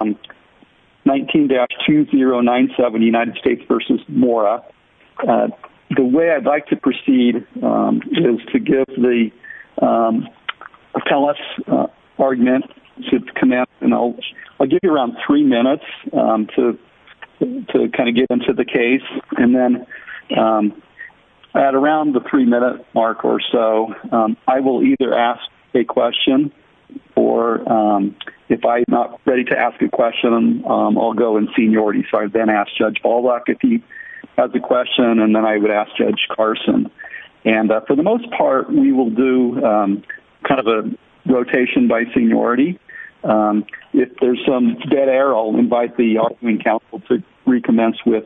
The way I'd like to proceed is to give the appellate's argument to comment and I'll give you around three minutes to kind of get into the case and then at around the three minute mark or so, I will either ask a question or if I'm not ready to ask a question, I'll go in seniority so I then ask Judge Ballwack if he has a question and then I would ask Judge Carson and for the most part, we will do kind of a rotation by seniority. If there's some dead air, I'll invite the arguing counsel to recommence with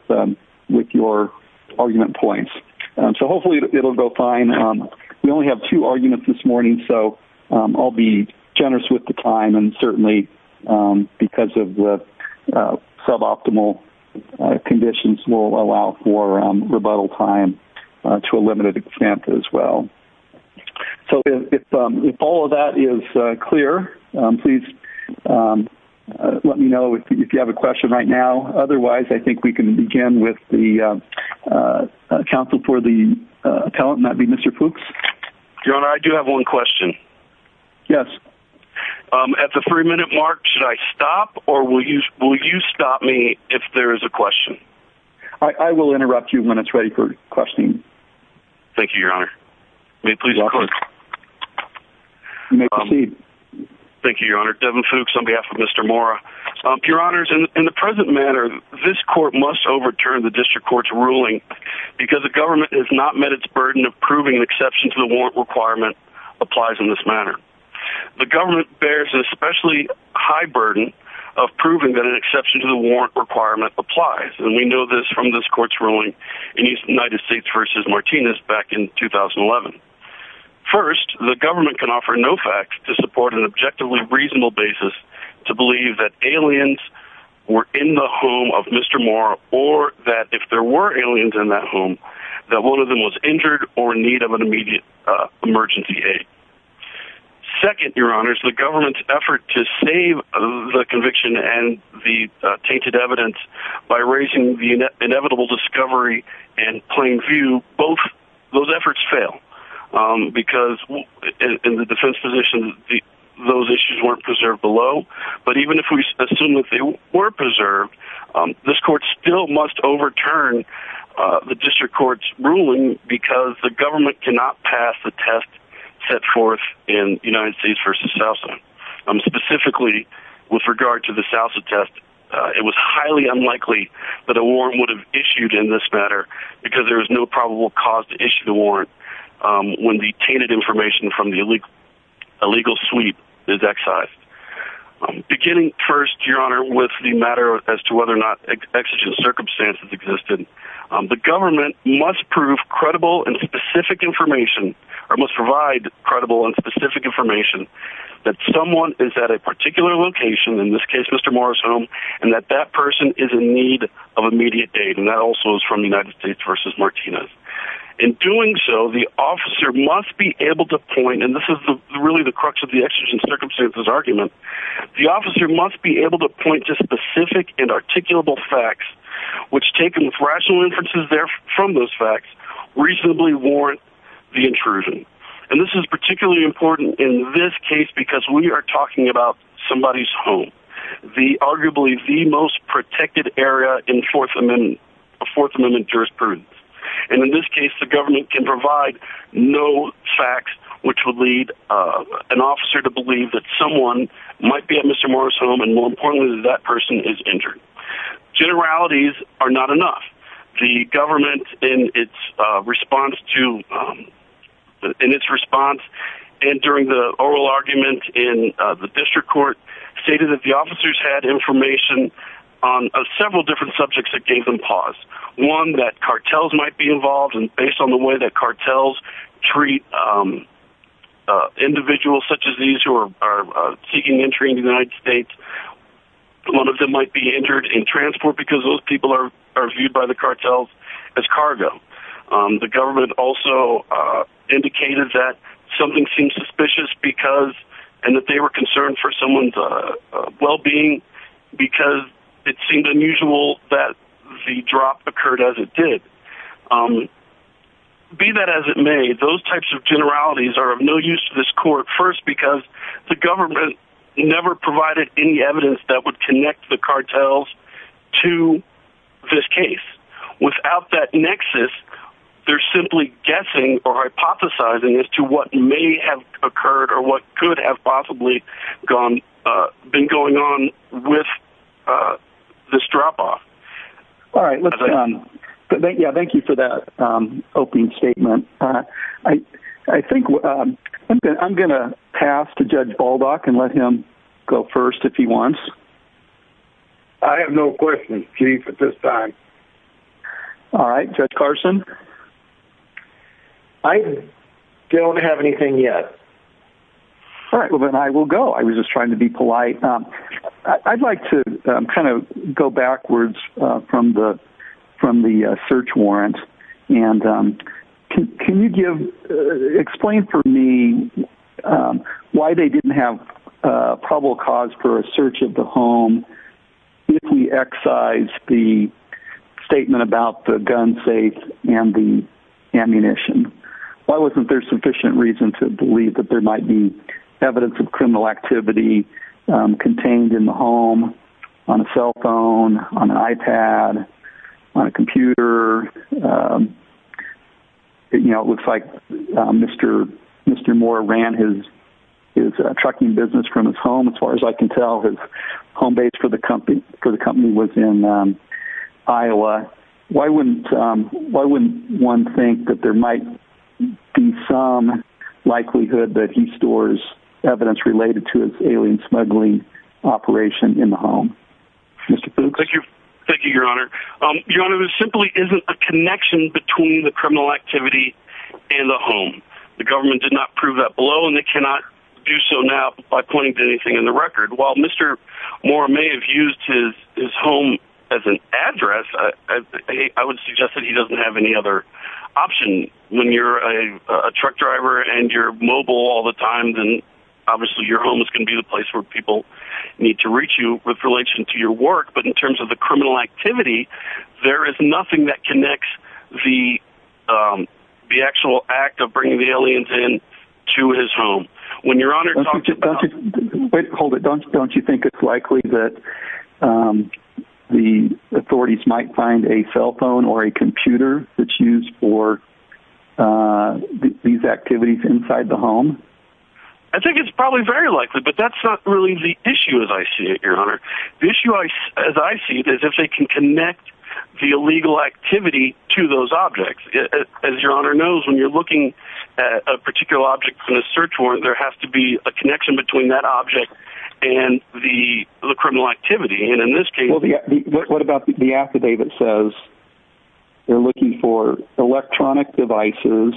your argument points. So it will go fine. We only have two arguments this morning so I'll be generous with the time and certainly because of the suboptimal conditions will allow for rebuttal time to a limited extent as well. So if all of that is clear, please let me know if you have a question right now. Otherwise, I think we can begin with the counsel for the appellant and that would be Mr. Fuchs. Your Honor, I do have one question. Yes. At the three minute mark, should I stop or will you stop me if there is a question? I will interrupt you when it's ready for questioning. Thank you, Your Honor. You may proceed. Thank you, Your Honor. Devin Fuchs on behalf of the District Court. In the present manner, this court must overturn the District Court's ruling because the government has not met its burden of proving an exception to the warrant requirement applies in this manner. The government bears an especially high burden of proving that an exception to the warrant requirement applies and we know this from this court's ruling in the United States v. Martinez back in 2011. First, the government can offer no facts to support an objectively reasonable basis to believe that aliens were in the home of Mr. Moore or that if there were aliens in that home that one of them was injured or in need of an immediate emergency aid. Second, Your Honor, the government's effort to save the conviction and the tainted evidence by raising the inevitable discovery and plain view, both those efforts fail because in the defense position, those issues weren't preserved below, but even if we assume that they were preserved, this court still must overturn the District Court's ruling because the government cannot pass the test set forth in United States v. Sousa. Specifically, with regard to the Sousa test, it was highly unlikely that a warrant would have issued in this matter because there is no probable cause to issue the warrant when the tainted information from the illegal sweep is excised. Beginning first, Your Honor, with the matter as to whether or not exigent circumstances existed, the government must prove credible and specific information or must provide credible and specific information that someone is at a particular location, in this case Mr. Moore's home, and that that person is in need of immediate aid and that also is from the United States v. Martinez. In doing so, the officer must be able to point, and this is really the crux of the exigent circumstances argument, the officer must be able to point to specific and articulable facts which, taken with rational inferences from those facts, reasonably warrant the intrusion. And this is particularly important in this case because we are talking about somebody's home, arguably the most protected area in Fourth Amendment jurisprudence. And in this case, the government can provide no facts which would lead an officer to believe that someone might be at Mr. Moore's home and, more importantly, that that person is injured. Generalities are not enough. The government, in its response, and during the oral argument in the district court, stated that the officers had information on several different subjects that gave them pause. One, that cartels might be involved, and based on the way that cartels treat individuals such as these who are seeking entry in the United States, one of them might be injured in transport because those people are viewed by the cartels as cargo. The government also indicated that something seemed suspicious and that they were concerned for someone's well-being because it seemed unusual that the drop occurred as it did. Be that as it may, those types of generalities are of no use to this court, first because the government never provided any evidence that would connect the cartels to this case. Without that nexus, they're simply guessing or hypothesizing as to what may have possibly been going on with this drop-off. All right. Thank you for that opening statement. I'm going to pass to Judge Baldock and let him go first if he wants. I have no questions, Chief, at this time. All right. Judge Carson? I don't have anything yet. All right. Well, then I will go. I was just trying to be polite. I'd like to kind of go backwards from the search warrant, and can you explain for me why they didn't have probable cause for a search of the home if we excise the statement about the gun safe and the ammunition? Why wasn't there sufficient reason to believe that there might be evidence of criminal activity contained in the home on a cell phone, on an iPad, on a computer? It looks like Mr. Moore ran his trucking business from his home, as far as I can tell. His home base for the company was in Iowa. Why wouldn't one think that there might be some likelihood that he stores evidence related to his alien smuggling operation in the home? Thank you. Thank you, Your Honor. Your Honor, there simply isn't a connection between the criminal activity and the home. The government did not prove that below, and they cannot do so now by pointing to anything in the record. While Mr. Moore may have used his home as an address, I would suggest that he doesn't have any other option. When you're a truck driver and you're mobile all the time, then obviously your home is going to be the place where people need to reach you with relation to your work. But in terms of the criminal activity, there is nothing that connects the actual act of bringing the alien to his home. Hold it. Don't you think it's likely that the authorities might find a cell phone or a computer that's used for these activities inside the home? I think it's probably very likely, but that's not really the issue, as I see it, Your Honor. The issue, as I see it, is if they can connect the illegal activity to those objects. As Your Honor knows, when you're looking at a particular object in a search warrant, there has to be a connection between that object and the criminal activity. And in this case... What about the affidavit says they're looking for electronic devices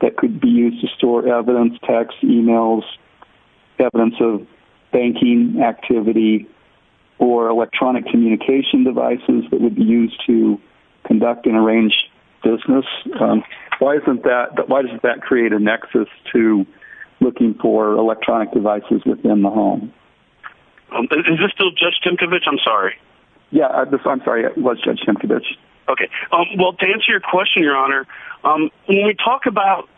that could be used to store evidence, text, emails, evidence of banking activity, or electronic communication devices that would be used to conduct and arrange business? Why doesn't that create a nexus to looking for electronic devices within the home? Is this still Judge Tinkovich? I'm sorry. Yeah, I'm sorry. It was Judge Tinkovich. Okay. Well, to answer your question, Your Honor, when we talk about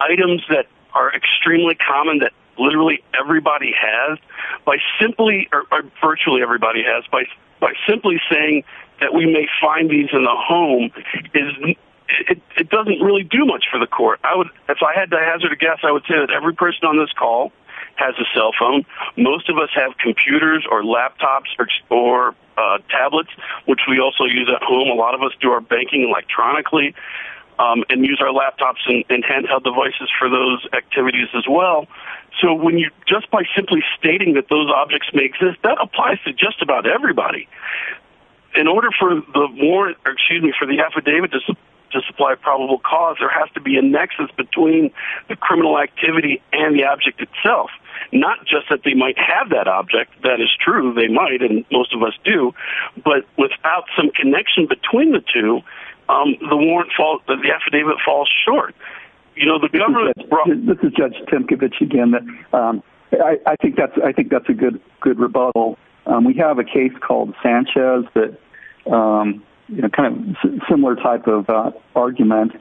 items that are extremely common that literally everybody has, by simply, or virtually everybody has, by simply saying that we may find these in the home, it doesn't really do much for the court. If I had to hazard a guess, I would say that every person on this call has a cell phone. Most of us have computers or laptops or tablets, which we also use at home. A lot of us do our banking electronically and use our laptops and handheld devices for those activities as well. So just by simply stating that those objects may exist, that applies to just about everybody. In order for the affidavit to supply a probable cause, there has to be a nexus between the criminal activity and the object itself. Not just that they might have that object. That is true. They might, and most of us do. But without some connection between the two, the warrant falls, the affidavit falls short. You know, the government... This is Judge Tinkovich again. I think that's a good rebuttal. We have a case called Sanchez that, you know, kind of similar type of argument.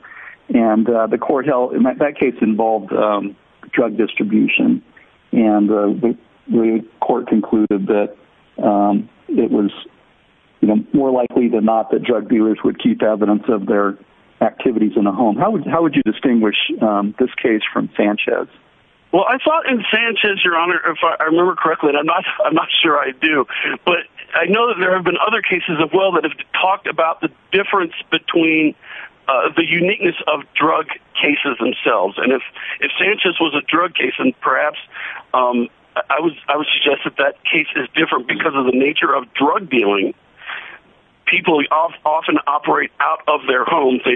And the court held that case involved drug distribution. And the court concluded that it was more likely than not that drug dealers would keep evidence of their activities in a home. How would you distinguish this case from Sanchez? Well, I thought in Sanchez, Your Honor, if I remember correctly, and I'm not sure I do, but I know that there have been other cases as well that have talked about the difference between the uniqueness of drug cases themselves. And if Sanchez was a drug case, and perhaps I would suggest that that case is different because of the nature of drug dealing. People often operate out of their homes. They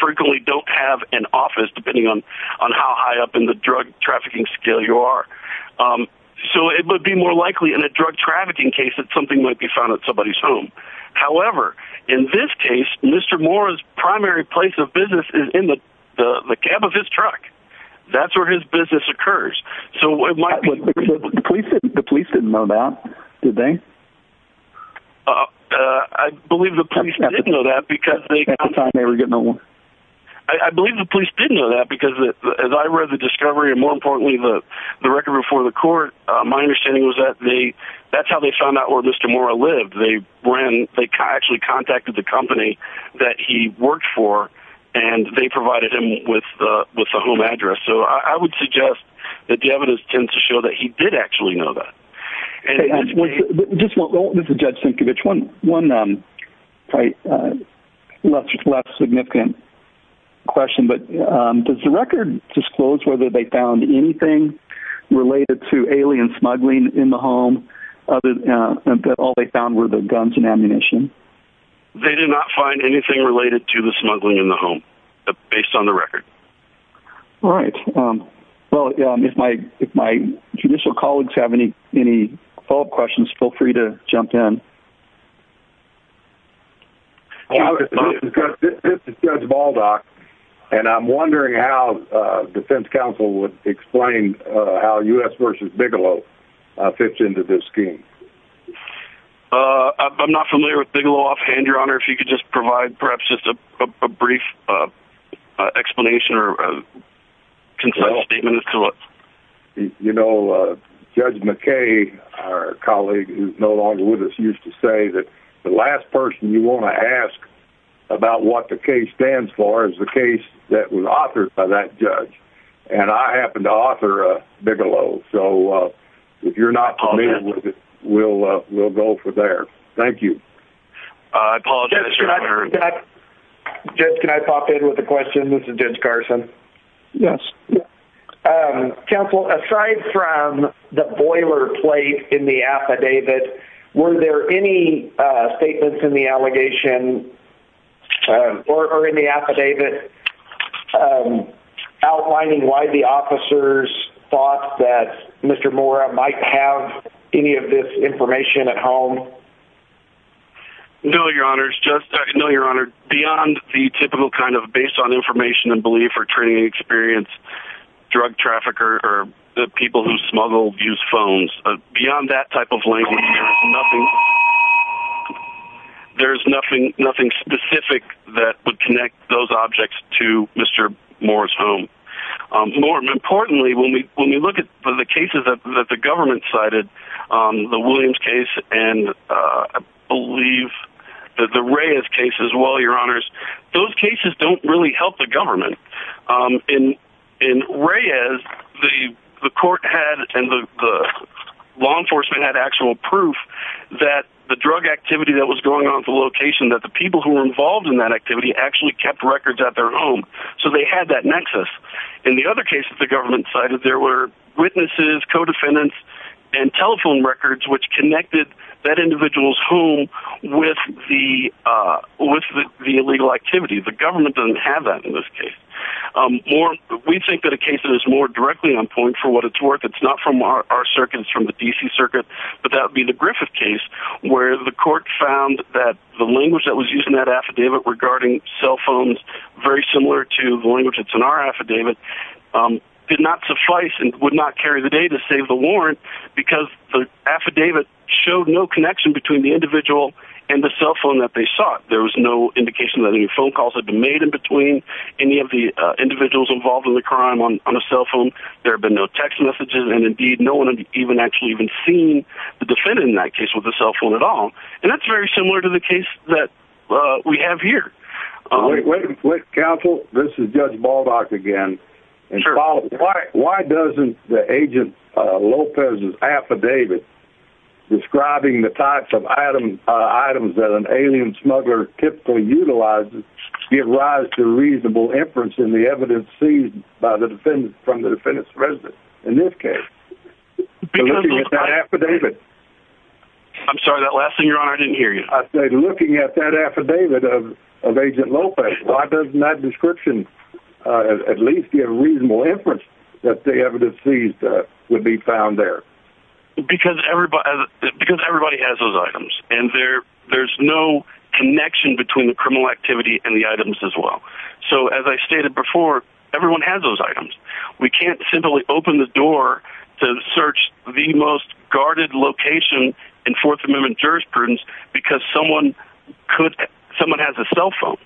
frequently don't have an office, depending on how high up in the drug trafficking scale you are. So it would be more likely in a drug trafficking case that something might be found at somebody's home. However, in this case, Mr. Moore's primary place of business is in the cab of his truck. That's where his business occurs. The police didn't know that, did they? I believe the police didn't know that because as I read the discovery, and more importantly, the record before the court, my understanding was that that's how they found out where Mr. Moore lived. They actually contacted the company that he worked for, and they provided him with a home address. So I would suggest that the evidence tends to show that he did actually know that. I just want to go over to Judge Sienkiewicz one last significant question. But does the record disclose whether they found anything related to alien smuggling in the home, that all they found were the guns and ammunition? They did not find anything related to the smuggling in the home, based on the record. All right. Well, if my judicial colleagues have any follow-up questions, feel free to jump in. This is Judge Baldock, and I'm wondering how the defense counsel would explain how U.S. v. Bigelow fits into this scheme. I'm not familiar with Bigelow offhand, Your Honor. If you could just provide perhaps just a brief explanation or a last person you want to ask about what the case stands for is the case that was authored by that judge. And I happen to author Bigelow. So if you're not familiar with it, we'll go from there. Thank you. I apologize, Your Honor. Judge, can I pop in with a question? This is Judge Carson. Yes. Counsel, aside from the boilerplate in the affidavit, were there any statements in the allegation or in the affidavit outlining why the officers thought that Mr. Mora might have any of this information at home? No, Your Honor. Beyond the typical kind of based on information and belief or training experience, drug trafficker or the people who smuggle used phones, beyond that type of language, there's nothing specific that would connect those objects to Mr. Mora's home. More importantly, when we look at the cases that the government cited, the Williams case and I believe the Reyes case as well, Your Honors, those cases don't really help the government. In Reyes, the law enforcement had actual proof that the drug activity that was going on at the location, that the people who were involved in that activity actually kept records at their home. So they had that nexus. In the other cases the government cited, there were witnesses, co-defendants, and telephone records which connected that individual's home with the illegal activity. The government doesn't have that in this case. We think that a case that is more directly on point for what it's worth, it's not from our circuit, it's from the D.C. circuit, but that would be the Griffith case where the court found that the language that was used in that affidavit regarding cell phones, very similar to the language that's in our affidavit, did not suffice and would not carry the data to save the warrant because the affidavit showed no connection between the individual and the cell phone that they sought. There was no indication that any phone calls had been made in between any of the individuals involved in the crime on a cell phone. There have been no text messages and indeed no one had actually even seen the defendant in that case with a cell phone at all. And that's very similar to the case that we have here. Wait, counsel, this is Judge Baldock again. Why doesn't the Agent Lopez's affidavit describing the types of items that an alien smuggler typically utilizes give rise to reasonable inference in the evidence seized from the defendant's residence in this case? I'm sorry, that last thing you're on, I didn't hear you. Looking at that affidavit of Agent Lopez, why doesn't that description at least give reasonable inference that the evidence seized would be found there? Because everybody has those items and there's no connection between the criminal activity and the items as well. So as I stated before, everyone has those items. We can't simply open the door to search the most guarded location in Fourth Amendment jurisprudence because someone has a cell phone.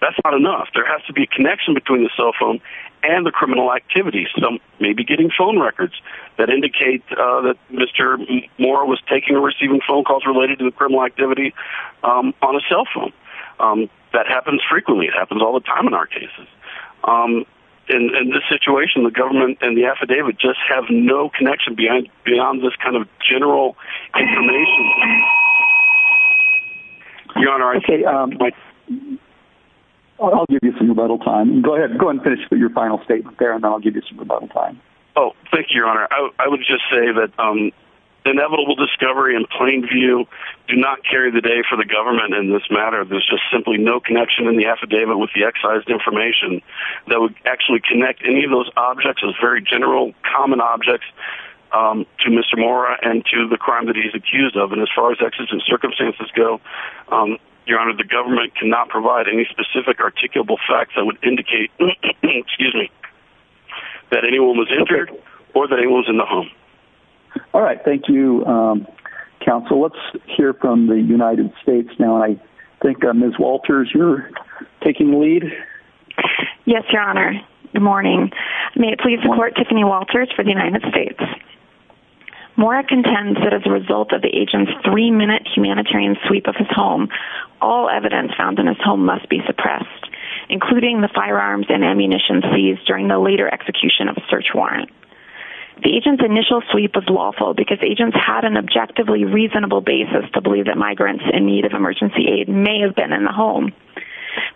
That's not enough. There has to be a connection between the cell phone and the criminal activity. Some may be getting phone records that indicate that Mr. Moore was taking or receiving phone calls related to the criminal activity on a cell phone. That happens frequently. It happens all the time in our cases. In this situation, the government and the affidavit just have no connection beyond this kind of general information. Your Honor, I think... I'll give you some rebuttal time. Go ahead. Go and finish your final statement there and I'll give you some rebuttal time. Thank you, Your Honor. I would just say that the inevitable discovery in plain view do not carry the day for the government in this matter. There's just simply no connection in the affidavit with the excised information that would actually connect any of those objects as very general common objects to Mr. Moore and to the crime that he's accused of. And as far as exigent circumstances go, Your Honor, the government cannot provide any specific articulable facts that would indicate that anyone was injured or that anyone was in the home. All right. Thank you, Counsel. Let's hear from the United States now. I think Ms. Walters, you're taking the lead. Yes, Your Honor. Good morning. May it please the Court, Tiffany Walters for the United States. Moore contends that as a result of the agent's three-minute humanitarian sweep of his home, all evidence found in his home must be suppressed, including the firearms and ammunition seized during the later execution of a search warrant. The agent's initial sweep was lawful because agents had an objectively reasonable basis to believe that migrants in need of emergency aid may have been in the home.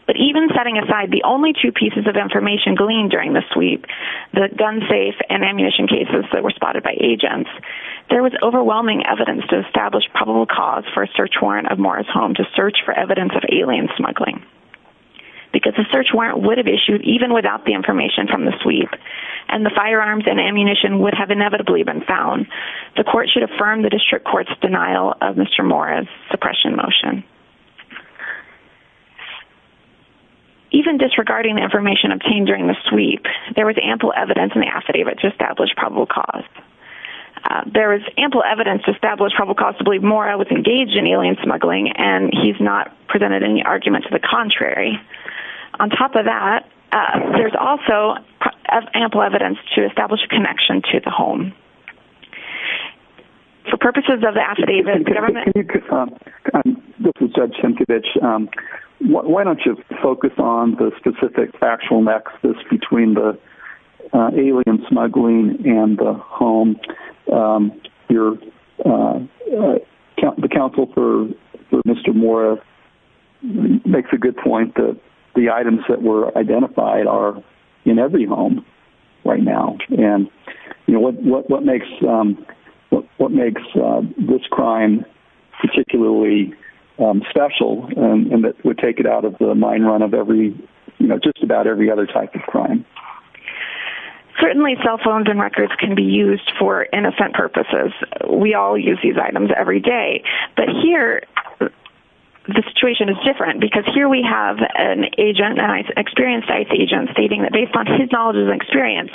But even setting aside the only two pieces of information gleaned during the sweep, the gun safe and ammunition cases that were spotted by agents, there was overwhelming evidence to establish probable cause for a search warrant of Moore's home to search for evidence of alien smuggling. Because the search warrant would have issued even without the information from the sweep and the firearms and ammunition would have inevitably been found, the Court should affirm the District Court's denial of Mr. Moore's suppression motion. Even disregarding the information obtained during the sweep, there was ample evidence in the affidavit to establish probable cause. There is ample evidence to establish probable cause to believe Moore was engaged in alien smuggling and he's not presented any argument to the contrary. On top of that, there's also ample evidence to establish a connection to the home. For purposes of the affidavit, the government... This is Judge Sienkiewicz. Why don't you focus on the specific factual nexus between the alien smuggling and the home? The counsel for Mr. Moore makes a good point that the items that identified are in every home right now. What makes this crime particularly special and that would take it out of the mind run of just about every other type of crime? Certainly cell phones and records can be used for innocent purposes. We all use these items every day, but here the situation is different because here we have an experienced ICE agent stating that based on his knowledge and experience,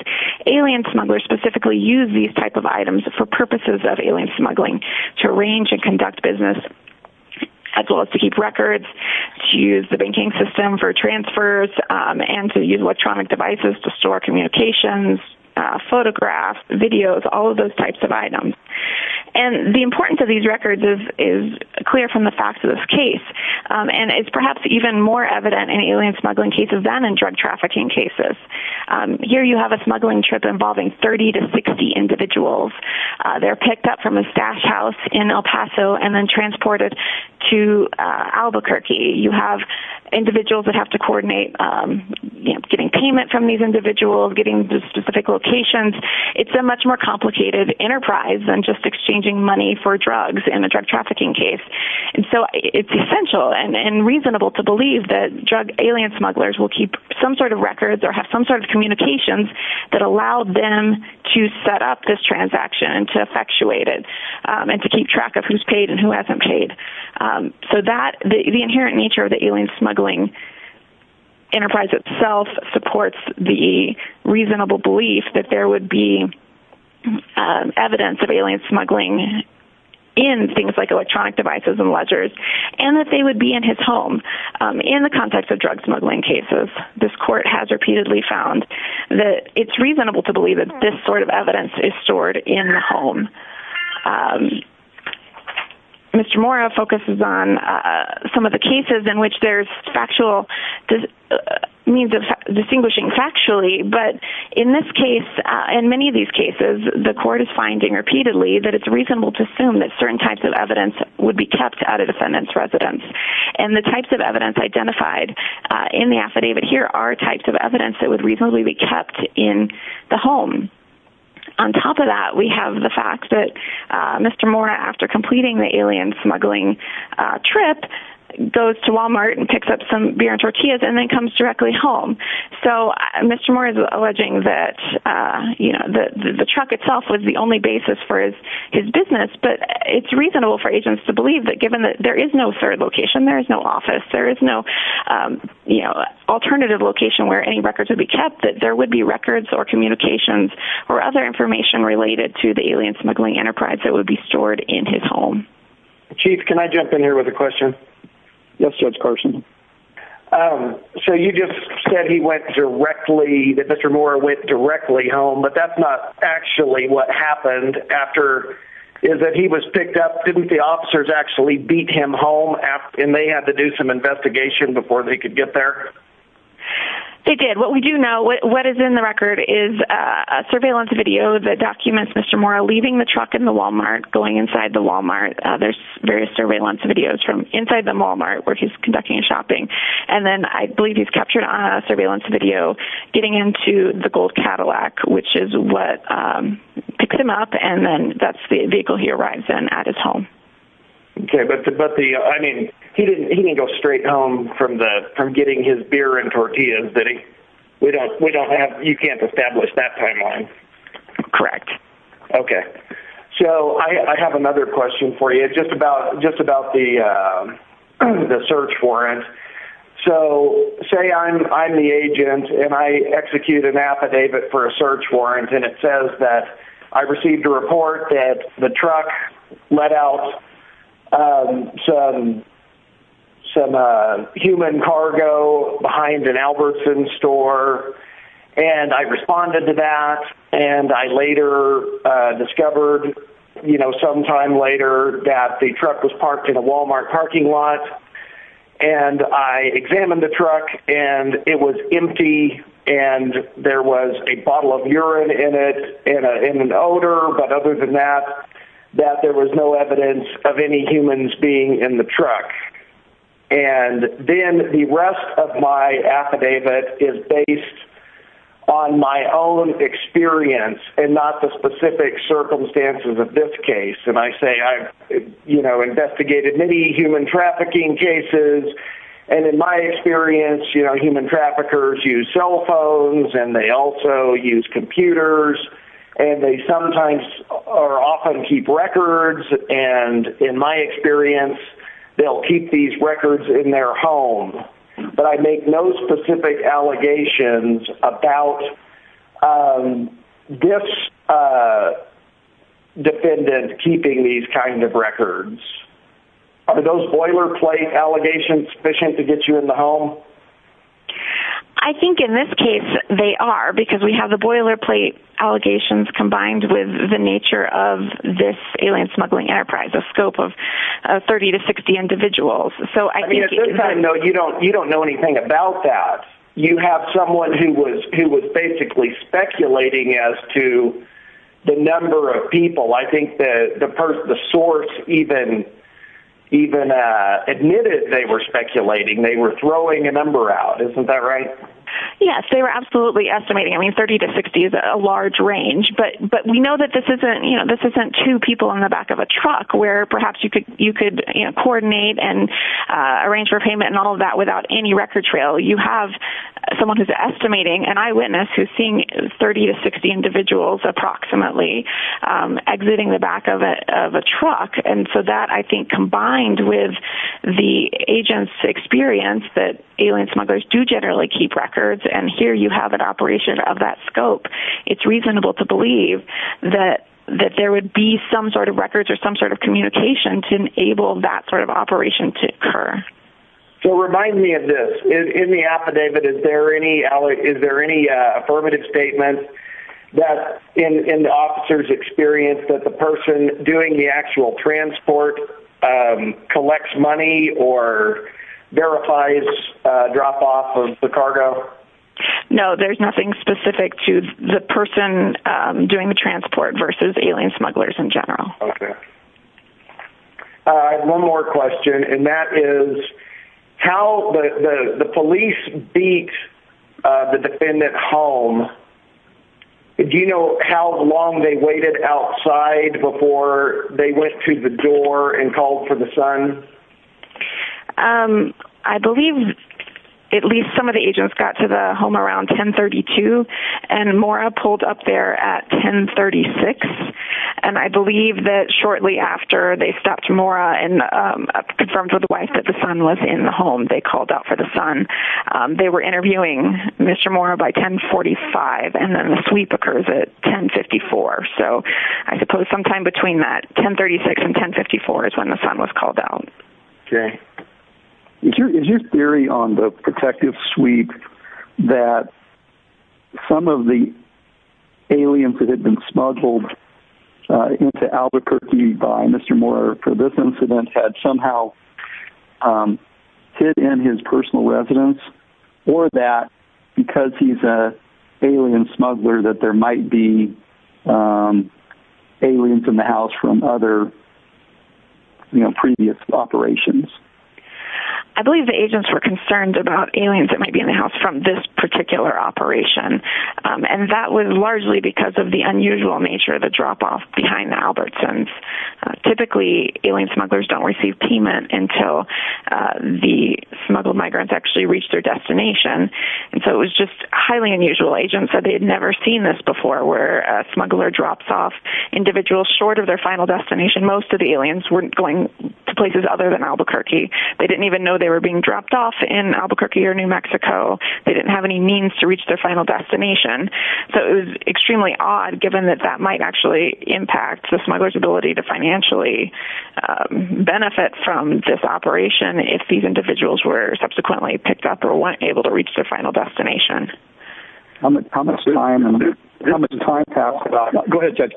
alien smugglers specifically use these types of items for purposes of alien smuggling to arrange and conduct business, as well as to keep records, to use the banking system for transfers, and to use electronic devices to store communications, photographs, videos, all of those types of items. The importance of these records is clear from the fact of this case. It's perhaps even more evident in alien smuggling cases than in drug trafficking cases. Here you have a smuggling trip involving 30 to 60 individuals. They're picked up from a stash house in El Paso and then transported to Albuquerque. You have individuals that have to coordinate getting payment from these individuals, getting specific locations. It's a much more complicated enterprise than just exchanging money for drugs in a drug trafficking case. It's essential and reasonable to believe that drug alien smugglers will keep some sort of records or have some sort of communications that allow them to set up this transaction and to effectuate it and to keep track of who's paid and who hasn't paid. The inherent nature of the alien smuggling enterprise itself supports the reasonable belief that there would be evidence of alien smuggling in things like electronic devices and ledgers and that they would be in his home in the context of drug smuggling cases. This court has repeatedly found that it's reasonable to believe that this sort of evidence is stored in the home. Mr. Mora focuses on some of the cases in which there's factual means of distinguishing factually, but in this case, in many of these cases, the court is finding repeatedly that it's reasonable to assume that certain types of evidence would be kept at a defendant's residence. And the types of evidence identified in the affidavit here are types of evidence that would reasonably be kept in the home. On top of that, we have the fact that Mr. Mora, after completing the alien smuggling trip, goes to Walmart and picks up some beer and tortillas and then comes directly home. So Mr. Mora's alleging that the truck itself was the only basis for his business, but it's reasonable for agents to believe that given that there is no third location, there is no office, there is no alternative location where any records would be kept, that there would be records or communications or other information related to the alien smuggling enterprise that would be stored in his home. Chief, can I jump in here with a question? Yes, Judge Carson. So you just said he went directly, that Mr. Mora went directly home, but that's not actually what happened after, is that he was picked up. Didn't the officers actually beat him home and they had to do some investigation before they could get there? They did. What we do know, what is in the record is a surveillance video that documents Mr. Mora leaving the truck in the Walmart, going inside the Walmart. There's various surveillance videos from inside the Walmart where he's conducting shopping, and then I believe he's captured on a surveillance video getting into the Gold Cadillac, which is what picked him up, and then that's the vehicle he arrives in at his home. Okay, but the, I mean, he didn't go straight home from getting his beer and tortillas, did he? We don't have, you can't establish that timeline. Correct. Okay. So I have another question for you, just about the search warrant. So say I'm the agent and I execute an affidavit for a search warrant and it says that I received a report that the truck let out some human cargo behind an Albertson store, and I responded to that, and I later discovered, you know, sometime later that the truck was parked in a Walmart parking lot, and I examined the truck and it was empty and there was a bottle of urine in it, in an odor, but other than that, that there was no evidence of any humans being in the truck. And then the rest of my affidavit is based on my own experience and not the specific circumstances of this case, and I say I've, you know, investigated many human trafficking cases, and in my experience, you know, human traffickers use cell phones and they also use computers, and they sometimes or often keep records, and in my experience, they'll keep these records in their home, but I make no specific allegations about this defendant keeping these kind of records. Are those boilerplate allegations sufficient to get you in the home? I think in this case, they are, because we have the boilerplate allegations combined with the nature of this alien smuggling enterprise, the scope of 30 to 60 individuals. So, I mean, you don't know anything about that. You have someone who was basically speculating as to the number of people. I think the source even admitted they were speculating. They were throwing a number out. Isn't that right? Yes, they were absolutely estimating. I mean, 30 to 60 is a large range, but we know that this isn't, you know, this isn't two people in the back of a truck where perhaps you could, you know, coordinate and arrange for payment and all of that without any record trail. You have someone who's estimating, an eyewitness who's 30 to 60 individuals approximately exiting the back of a truck. And so that, I think, combined with the agent's experience that alien smugglers do generally keep records, and here you have an operation of that scope, it's reasonable to believe that there would be some sort of records or some sort of communication to enable that sort of operation to occur. So, remind me of this. In the affidavit, is there any affirmative statement that in the officer's experience that the person doing the actual transport collects money or verifies drop-off of the cargo? No, there's nothing specific to the person doing the transport versus alien smugglers in general. Okay. I have one more question, and that is how the police beat the defendant home? Do you know how long they waited outside before they went to the door and called for the son? I believe at least some of the agents got to the home around 1032, and Maura pulled up there at 1036, and I believe that shortly after they stopped Maura and confirmed with the wife that the son was in the home, they called out for the son. They were interviewing Mr. Maura by 1045, and then the sweep occurs at 1054. So, I suppose sometime between that 1036 and 1054 is when the son was called out. Okay. Is your theory on the protective sweep that some of the aliens that had been smuggled into Albuquerque by Mr. Maura for this incident had somehow hid in his personal residence, or that because he's an alien smuggler that there might be aliens in the house from other previous operations? I believe the agents were concerned about aliens that might be in the house from this particular operation, and that was largely because of the unusual nature of the drop-off behind the Albertsons. Typically, alien smugglers don't receive payment until the smuggled migrants actually reach their destination, and so it was just highly unusual. Agents said they had never seen this before, where a smuggler drops off individuals short of their final destination. Most of the aliens weren't going to places other than Albuquerque. They didn't even know they were being dropped off in Albuquerque or New Mexico. They didn't have any means to reach their final destination. So, it was extremely odd, given that that might actually impact the smuggler's ability to financially benefit from this operation if these individuals were subsequently picked up or weren't able to reach their final destination. How much time passed about that? Go ahead, Judge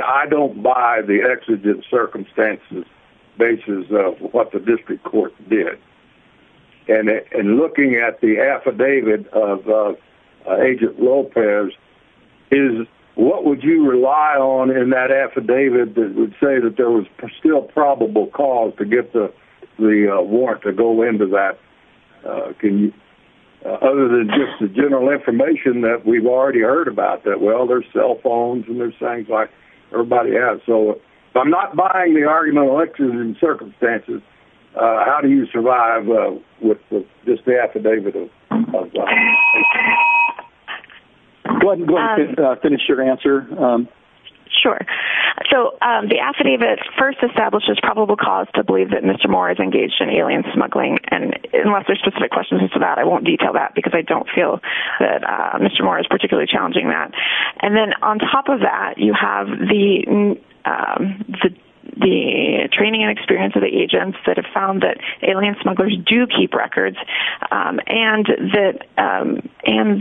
I don't buy the exigent circumstances basis of what the district court did. In looking at the affidavit of Agent Lopez, what would you rely on in that affidavit that would say that there was still probable cause to get the warrant to go into that? Other than just the general information that we've already heard about that, well, there's cell phones and there's things everybody has. So, if I'm not buying the argument of the exigent circumstances, how do you survive with just the affidavit? Go ahead and finish your answer. Sure. So, the affidavit first establishes probable cause to believe that Mr. Moore is engaged in alien smuggling. Unless there's specific questions to that, I won't detail that because I don't feel that Mr. Moore is particularly challenging that. And then, on top of that, you have the training and experience of the agents that have found that alien smugglers do keep records and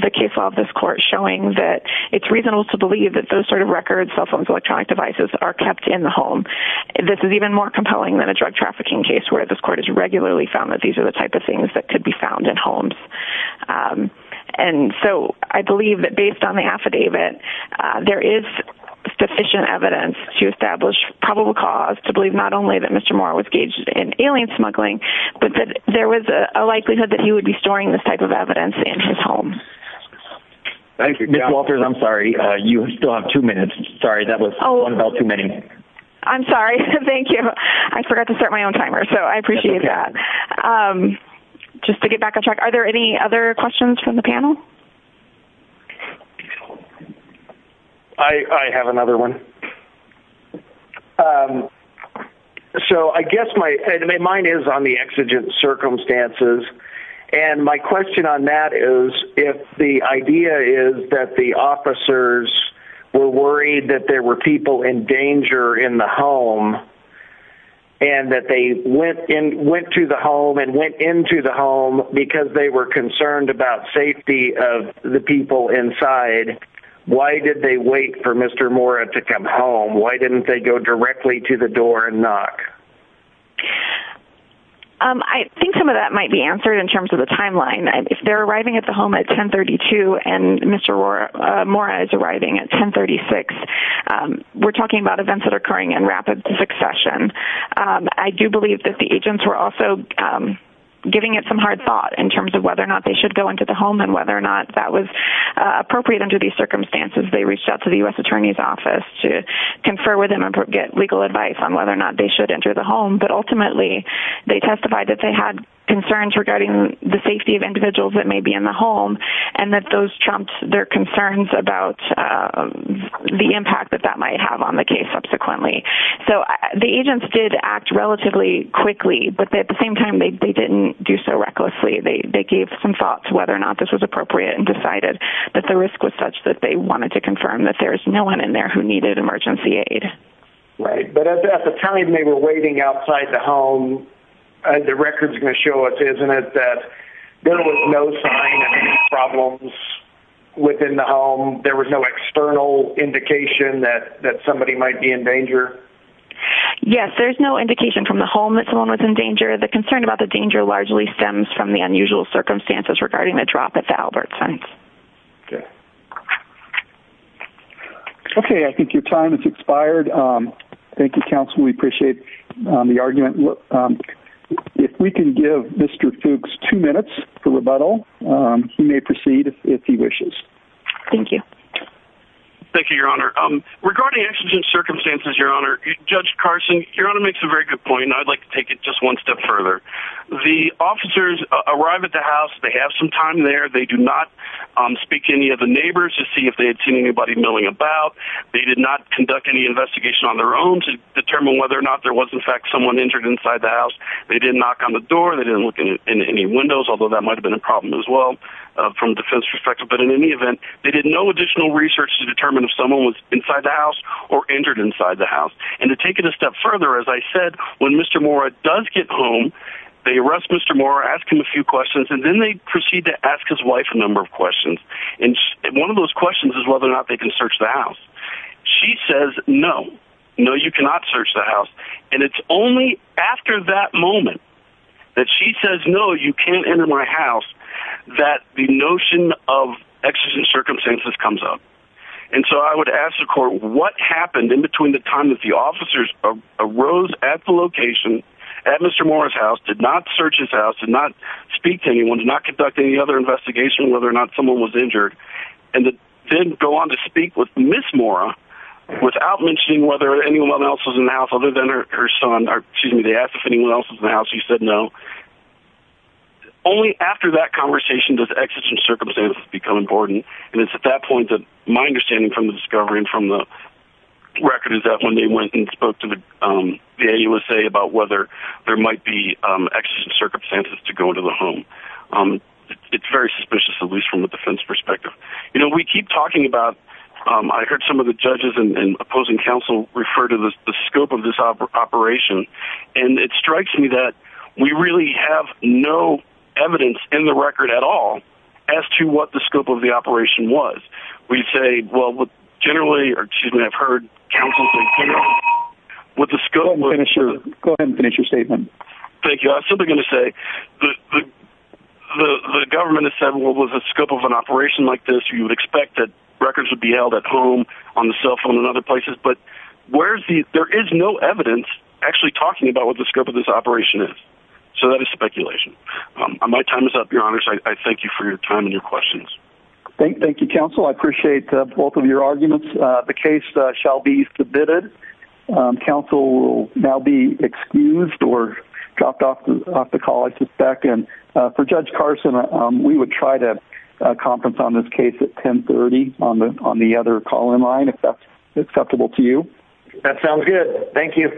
the case law of this court showing that it's reasonable to believe that those sort of records, cell phones, electronic devices, are kept in the home. This is even more compelling than a drug trafficking case where this court has regularly found that these are the type of things that I believe that, based on the affidavit, there is sufficient evidence to establish probable cause to believe not only that Mr. Moore was engaged in alien smuggling, but that there was a likelihood that he would be storing this type of evidence in his home. Thank you. Ms. Walters, I'm sorry. You still have two minutes. Sorry, that was one about too many. I'm sorry. Thank you. I forgot to start my own timer, so I appreciate that. Just to get back on track, are there any other questions from the panel? I have another one. So, I guess, mine is on the exigent circumstances. And my question on that is, if the idea is that the officers were worried that there were people in danger in the home and that they went to the home and went into the home because they were concerned about safety of the people inside, why did they wait for Mr. Moore to come home? Why didn't they go directly to the door and knock? I think some of that might be answered in terms of the timeline. If they're arriving at the home at 1032 and Mr. Moore is arriving at 1036, we're talking about events that are occurring in rapid succession. I do believe that the agents were also giving it some hard thought in terms of whether or not they should go into the home and whether or not that was appropriate under these circumstances. They reached out to the U.S. Attorney's Office to confer with him and get legal advice on whether or not they should enter the home. But ultimately, they testified that they had concerns regarding the safety of individuals that may be in the home and that those trumped their concerns about the impact that that might have on the case subsequently. So the agents did act relatively quickly, but at the same time, they didn't do so recklessly. They gave some thought to whether or not this was appropriate and decided that the risk was such that they wanted to confirm that there was no one in there who needed emergency aid. Right. But at the time they were waiting outside the home, the record is going to show us, isn't it, that there was no sign of any problems within the home? There was no external indication that somebody might be in danger? Yes, there's no indication from the home that someone was in danger. The concern about the danger largely stems from the unusual circumstances regarding the drop at the Albertsons. Okay. I think your time has expired. Thank you, counsel. We appreciate the argument. If we can give Mr. Fuchs two minutes for rebuttal, he may proceed if he wishes. Thank you. Thank you, Your Honor. Regarding actions and circumstances, Your Honor, Judge Carson, Your Honor makes a very good point, and I'd like to take it just one step further. The officers arrive at the house. They have some time there. They do not speak to any of the neighbors to see if they had seen anybody milling about. They did not conduct any investigation on the fact that someone entered inside the house. They did not knock on the door. They didn't look in any windows, although that might have been a problem as well from a defense perspective. But in any event, they did no additional research to determine if someone was inside the house or entered inside the house. And to take it a step further, as I said, when Mr. Mora does get home, they arrest Mr. Mora, ask him a few questions, and then they proceed to ask his wife a number of questions. And one of those questions is whether or not they can search the house. She says, no. No, you cannot search the house. And it's only after that moment that she says, no, you can't enter my house, that the notion of actions and circumstances comes up. And so I would ask the court what happened in between the time that the officers arose at the location at Mr. Mora's house, did not search his house, did not speak to anyone, did not conduct any other investigation on whether or not someone was injured, and then go on to speak with Ms. Mora without mentioning whether anyone else was in the house other than her son, or excuse me, they asked if anyone else was in the house. She said, no. Only after that conversation does actions and circumstances become important. And it's at that point that my understanding from the discovery and from the record is that when they went and spoke to the USA about whether there might be actions and circumstances to go into the home, um, it's very suspicious, at least from the defense perspective. You know, we keep talking about, um, I heard some of the judges and opposing counsel refer to the scope of this operation. And it strikes me that we really have no evidence in the record at all as to what the scope of the operation was. We'd say, well, generally, or excuse me, I've heard counsel with the scope. Go ahead and finish your statement. Thank you. I was simply going to say the, the, the, the government has said, well, what was the scope of an operation like this? You would expect that records would be held at home on the cell phone and other places, but where's the, there is no evidence actually talking about what the scope of this operation is. So that is speculation. Um, my time is up your honors. I thank you for your time and your questions. Thank you, counsel. I appreciate both of your dropped off the, off the call. I suspect. And, uh, for judge Carson, um, we would try to conference on this case at 10 30 on the, on the other call in line, if that's acceptable to you. That sounds good. Thank you.